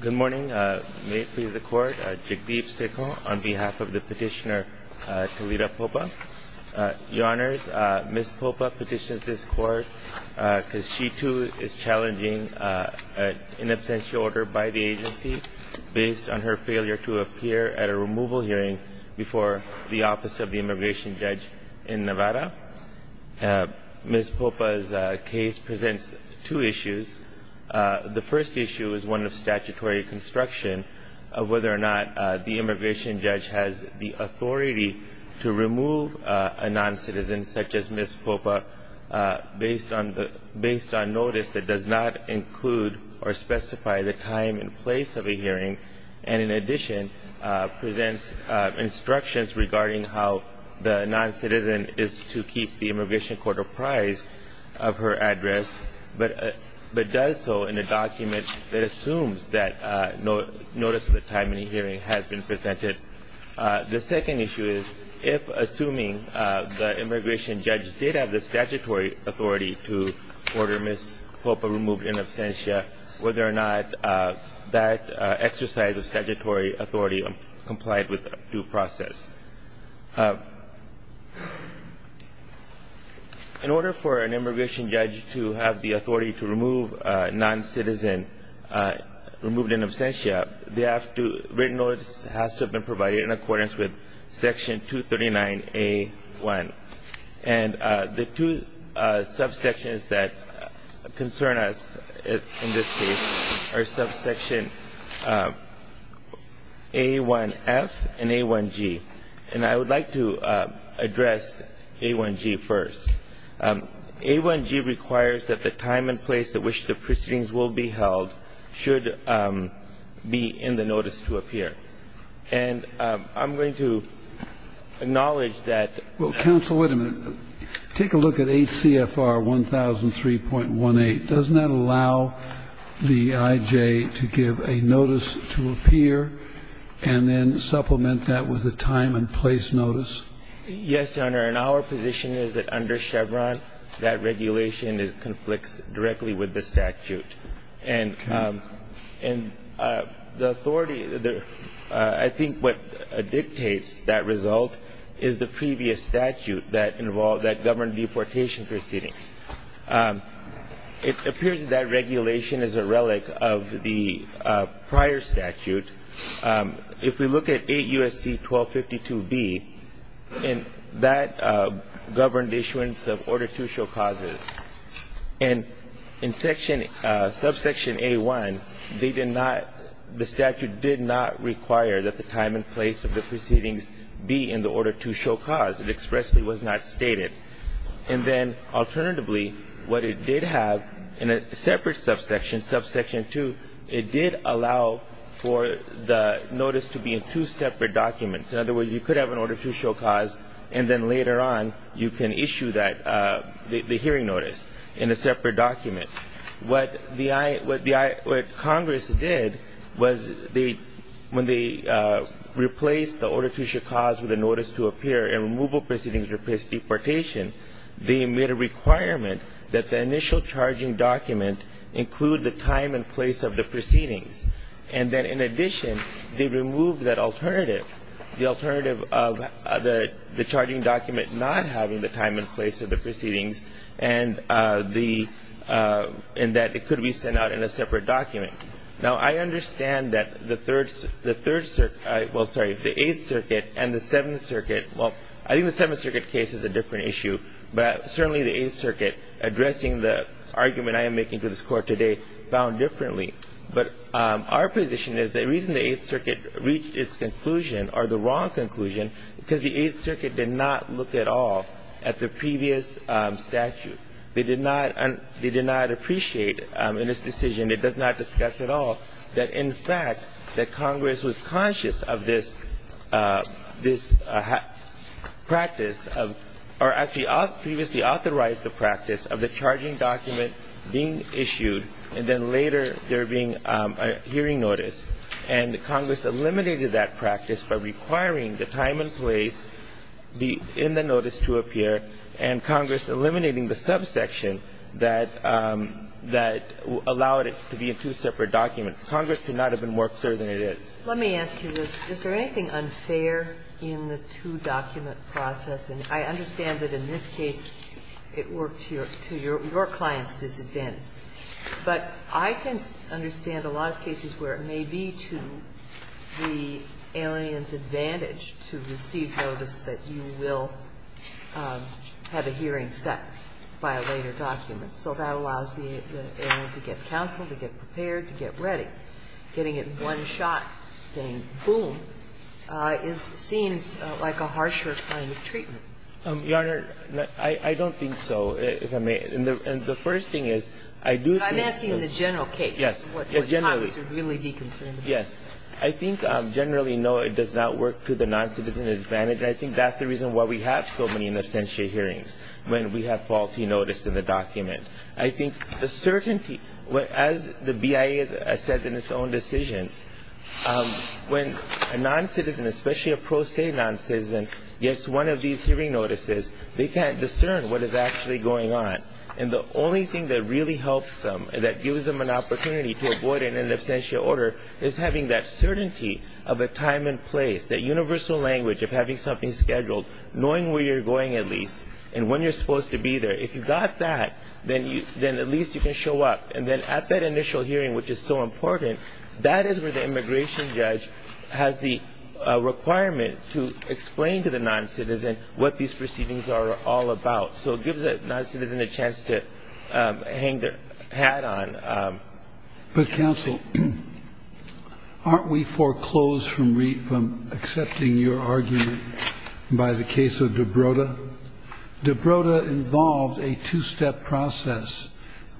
Good morning. May it please the Court, Jagdeep Sekhar on behalf of the petitioner Talita Popa. Your Honors, Ms. Popa petitions this Court because she too is challenging an in absentia order by the agency based on her failure to appear at a removal hearing before the Office of the Immigration Judge in Nevada. Ms. Popa's case presents two issues. The first issue is one of statutory construction of whether or not the immigration judge has the authority to remove a noncitizen such as Ms. Popa based on notice that does not include or specify the time and place of a hearing and in addition presents instructions regarding how the noncitizen is to keep the immigration court apprised of her address but does so in a document that assumes that notice of the time in the hearing has been presented. The second issue is if assuming the immigration judge did have the statutory authority to order Ms. Popa removed in absentia, whether or not that exercise of statutory authority complied with due process. In order for an immigration judge to have the authority to remove a noncitizen removed in absentia, written notice has to have been provided in accordance with Section 239A.1. And the two subsections that concern us in this case are subsection A1F and A1G. And I would like to address A1G first. A1G requires that the time and place at which the proceedings will be held should be in the notice to appear. And I'm going to acknowledge that that's not the case. Kennedy. Well, counsel, wait a minute. Take a look at ACFR 1003.18. Doesn't that allow the IJ to give a notice to appear and then supplement that with a time and place notice? Yes, Your Honor. And our position is that under Chevron, that regulation conflicts directly with the statute. Okay. And the authority, I think what dictates that result is the previous statute that involved, that governed deportation proceedings. It appears that that regulation is a relic of the prior statute. If we look at 8 U.S.C. 1252B, that governed issuance of order to show causes. And in section, subsection A1, they did not, the statute did not require that the time and place of the proceedings be in the order to show cause. It expressly was not stated. And then alternatively, what it did have in a separate subsection, subsection 2, it did allow for the notice to be in two separate documents. In other words, you could have an order to show cause, and then later on you can issue that, the hearing notice in a separate document. What Congress did was when they replaced the order to show cause with a notice to appear and removal proceedings replaced deportation, they made a requirement that the initial charging document include the time and place of the proceedings. And then in addition, they removed that alternative, the alternative of the charging document not having the time and place of the proceedings and the, and that it could be sent out in a separate document. Now, I understand that the Third Circuit, well, sorry, the Eighth Circuit and the Seventh Circuit, well, I think the Seventh Circuit case is a different issue, but certainly the Eighth Circuit addressing the argument I am making to this Court today found differently. But our position is the reason the Eighth Circuit reached its conclusion or the wrong conclusion is because the Eighth Circuit did not look at all at the previous statute. They did not, they did not appreciate in this decision, it does not discuss at all, that in fact that Congress was conscious of this, this practice of, or actually previously authorized the practice of the charging document being issued and then later there being a hearing notice, and Congress eliminated that practice by requiring the time and place in the notice to appear and Congress eliminating the subsection that, that allowed it to be in two separate documents. Congress could not have been more clear than it is. Let me ask you this. Is there anything unfair in the two-document process? And I understand that in this case it worked to your client's disadvantage. But I can understand a lot of cases where it may be to the alien's advantage to receive notice that you will have a hearing set by a later document. So that allows the alien to get counsel, to get prepared, to get ready. But getting it in one shot, saying, boom, is, seems like a harsher kind of treatment. Yarner, I don't think so, if I may. And the first thing is, I do think that's the reason why we have so many inoccentia hearings when we have faulty notice in the document. I think the certainty, as the BIA says in its own decisions, when a noncitizen, especially a pro se noncitizen, gets one of these hearing notices, they can't discern what is actually going on. And the only thing that really helps them and that gives them an opportunity to avoid an inoccentia order is having that certainty of a time and place, that universal language of having something scheduled, knowing where you're going at least and when you're supposed to be there. If you've got that, then at least you can show up. And then at that initial hearing, which is so important, that is where the immigration judge has the requirement to explain to the noncitizen what these proceedings are all about. So it gives the noncitizen a chance to hang their hat on. But counsel, aren't we foreclosed from accepting your argument by the case of DiBroda? DiBroda involved a two-step process.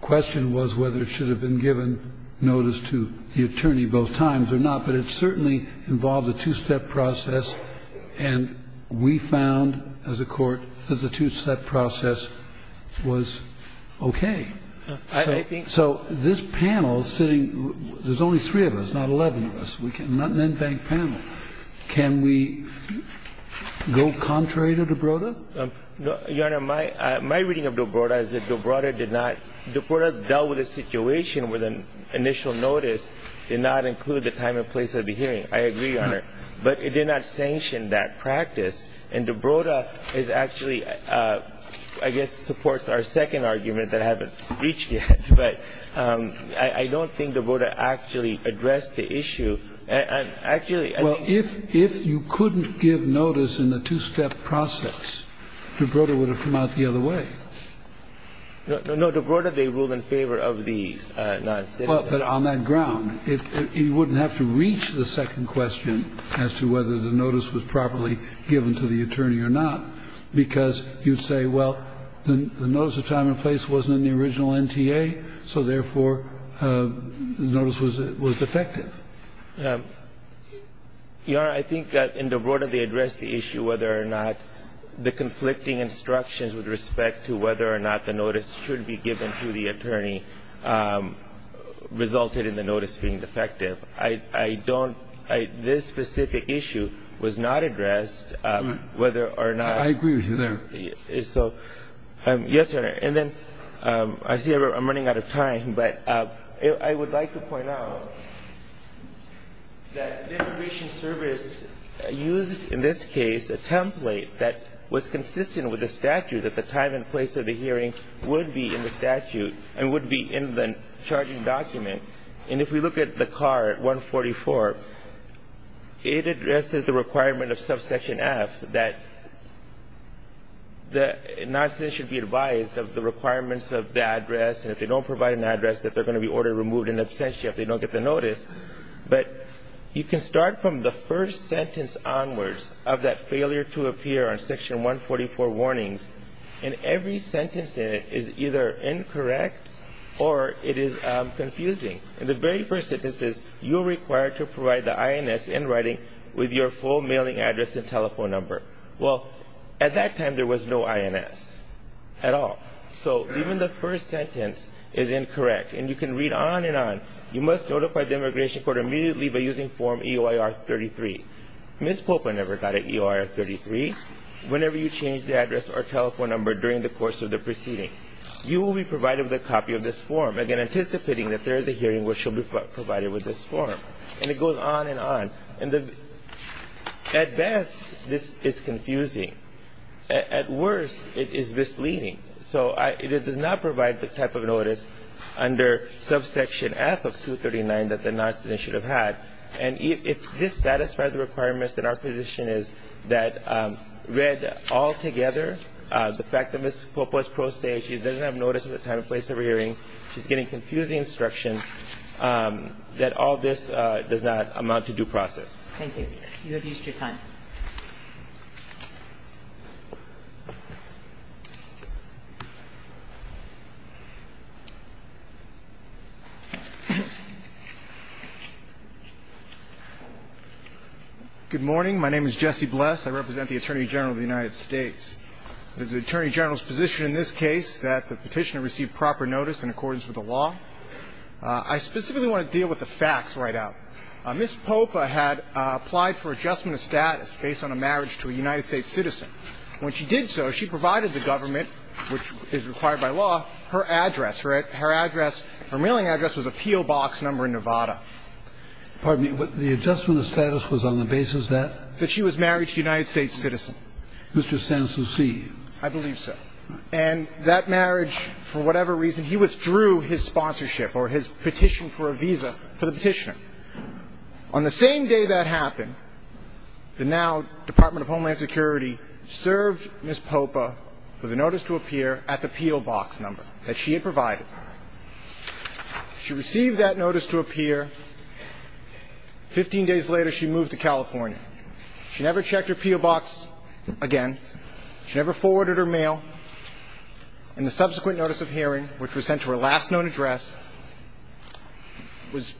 The question was whether it should have been given notice to the attorney both times or not, but it certainly involved a two-step process. And we found, as a court, that the two-step process was okay. So this panel sitting, there's only three of us, not 11 of us, not an NBANC panel. Can we go contrary to DiBroda? No, Your Honor. My reading of DiBroda is that DiBroda did not – DiBroda dealt with a situation where the initial notice did not include the time and place of the hearing. I agree, Your Honor. But it did not sanction that practice. And DiBroda is actually – I guess supports our second argument that I haven't reached yet. But I don't think DiBroda actually addressed the issue. Actually – Well, if you couldn't give notice in the two-step process, DiBroda would have come out the other way. No. DiBroda, they ruled in favor of these. But on that ground, you wouldn't have to reach the second question as to whether the notice was properly given to the attorney or not, because you'd say, well, the notice of time and place wasn't in the original NTA, so therefore the notice was defective. Your Honor, I think that in DiBroda, they addressed the issue whether or not the conflicting instructions with respect to whether or not the notice should be given to the attorney resulted in the notice being defective. I don't – this specific issue was not addressed whether or not – I agree with you there. So, yes, Your Honor. And then, I see I'm running out of time, but I would like to point out that the Immigration Service used in this case a template that was consistent with the statute that the time and place of the hearing would be in the statute and would be in the charging document. And if we look at the card 144, it addresses the requirement of subsection F that noticers should be advised of the requirements of the address, and if they don't provide an address, that they're going to be ordered removed in absentia if they don't get the notice. But you can start from the first sentence onwards of that failure to appear on section 144 warnings, and every sentence in it is either incorrect or it is confusing. And the very first sentence says, you are required to provide the INS in writing with your full mailing address and telephone number. Well, at that time, there was no INS at all. So even the first sentence is incorrect, and you can read on and on. You must notify the immigration court immediately by using form EOIR-33. Ms. Popa never got an EOIR-33. Whenever you change the address or telephone number during the course of the proceeding, you will be provided with a copy of this form, again, anticipating that there is a hearing where she'll be provided with this form. And it goes on and on. And at best, this is confusing. At worst, it is misleading. So it does not provide the type of notice under subsection F of 239 that the non-citizen should have had. And if this satisfies the requirements, then our position is that read altogether, the fact that Ms. Popa's pro se, she doesn't have notice of the time and place of her hearing, she's getting confusing instructions, that all this does not amount to due process. Thank you. You have used your time. Good morning. My name is Jesse Bless. I represent the Attorney General of the United States. It is the Attorney General's position in this case that the Petitioner received proper notice in accordance with the law. I specifically want to deal with the facts right out. Ms. Popa had applied for adjustment of status based on a marriage to a United States citizen. When she did so, she provided the government, which is required by law, her address. Her address, her mailing address was a P.O. Box number in Nevada. Pardon me, but the adjustment of status was on the basis that? That she was married to a United States citizen. Mr. Sansouci. I believe so. And that marriage, for whatever reason, he withdrew his sponsorship or his petition for a visa for the Petitioner. On the same day that happened, the now Department of Homeland Security served Ms. Popa with a notice to appear at the P.O. Box number that she had provided. She received that notice to appear. Fifteen days later, she moved to California. She never checked her P.O. Box again. She never forwarded her mail. And the subsequent notice of hearing, which was sent to her last known address, was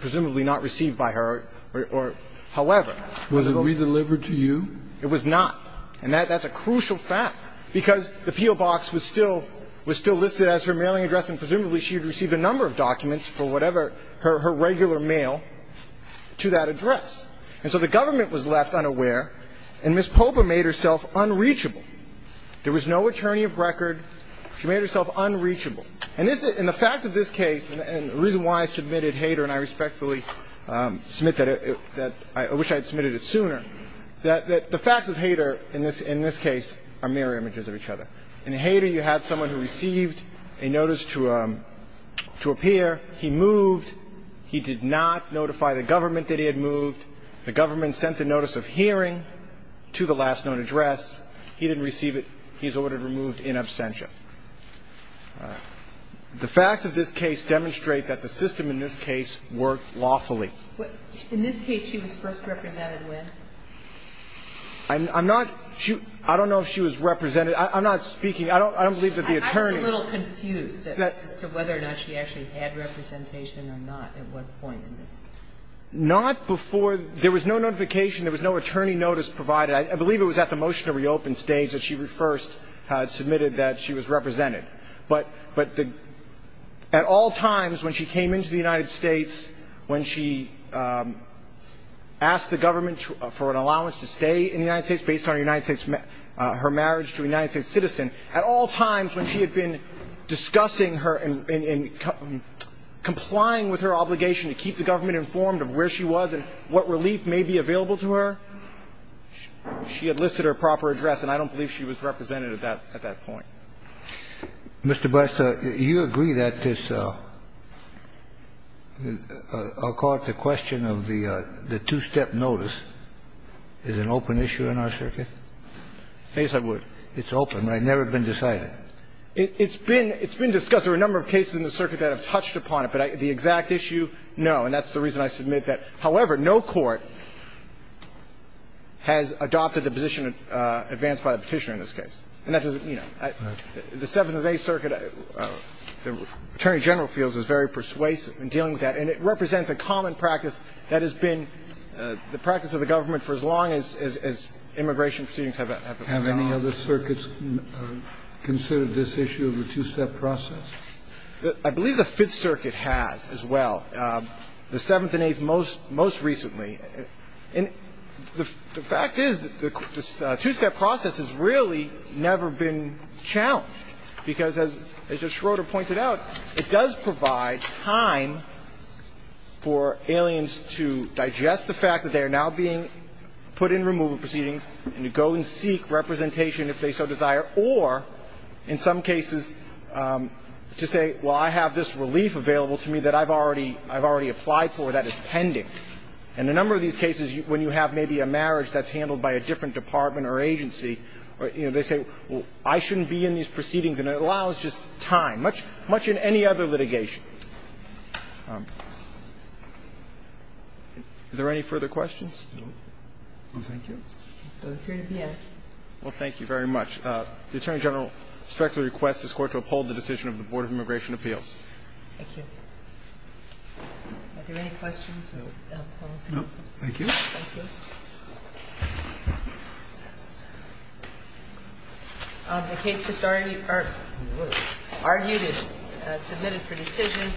presumably not received by her or however. Was it re-delivered to you? It was not. And that's a crucial fact, because the P.O. Box was still listed as her mailing address and presumably she had received a number of documents for whatever her regular mail to that address. And so the government was left unaware, and Ms. Popa made herself unreachable. There was no attorney of record. She made herself unreachable. And the facts of this case and the reason why I submitted Hader, and I respectfully submit that I wish I had submitted it sooner, that the facts of Hader in this case are mirror images of each other. In Hader, you had someone who received a notice to appear. He moved. He did not notify the government that he had moved. The government sent the notice of hearing to the last known address. He didn't receive it. He was ordered removed in absentia. The facts of this case demonstrate that the system in this case worked lawfully. In this case, she was first represented when? I'm not – I don't know if she was represented. I'm not speaking – I don't believe that the attorney – I'm just a little confused as to whether or not she actually had representation or not at one point in this. Not before – there was no notification. There was no attorney notice provided. I believe it was at the motion to reopen stage that she first submitted that she was represented. But at all times when she came into the United States, when she asked the government in discussing her and complying with her obligation to keep the government informed of where she was and what relief may be available to her, she had listed her proper address. And I don't believe she was represented at that point. Mr. Bress, you agree that this – I'll call it the question of the two-step notice is an open issue in our circuit? Yes, I would. It's open, right? Never been decided. It's been – it's been discussed. There are a number of cases in the circuit that have touched upon it. But the exact issue, no. And that's the reason I submit that. However, no court has adopted the position advanced by the Petitioner in this case. And that doesn't – you know, the Seventh Day Circuit, the Attorney General feels is very persuasive in dealing with that. And it represents a common practice that has been the practice of the government for as long as immigration proceedings have evolved. Have any other circuits considered this issue of a two-step process? I believe the Fifth Circuit has as well. The Seventh and Eighth most recently. And the fact is the two-step process has really never been challenged, because as Justice Schroeder pointed out, it does provide time for aliens to digest the presentation if they so desire, or in some cases to say, well, I have this relief available to me that I've already applied for that is pending. And a number of these cases when you have maybe a marriage that's handled by a different department or agency, you know, they say, well, I shouldn't be in these proceedings and it allows just time, much in any other litigation. Are there any further questions? No. Thank you. Well, thank you very much. The Attorney General respectfully requests this Court to uphold the decision of the Board of Immigration Appeals. Thank you. Are there any questions? No. Thank you. Thank you. The case just already argued and submitted for decision.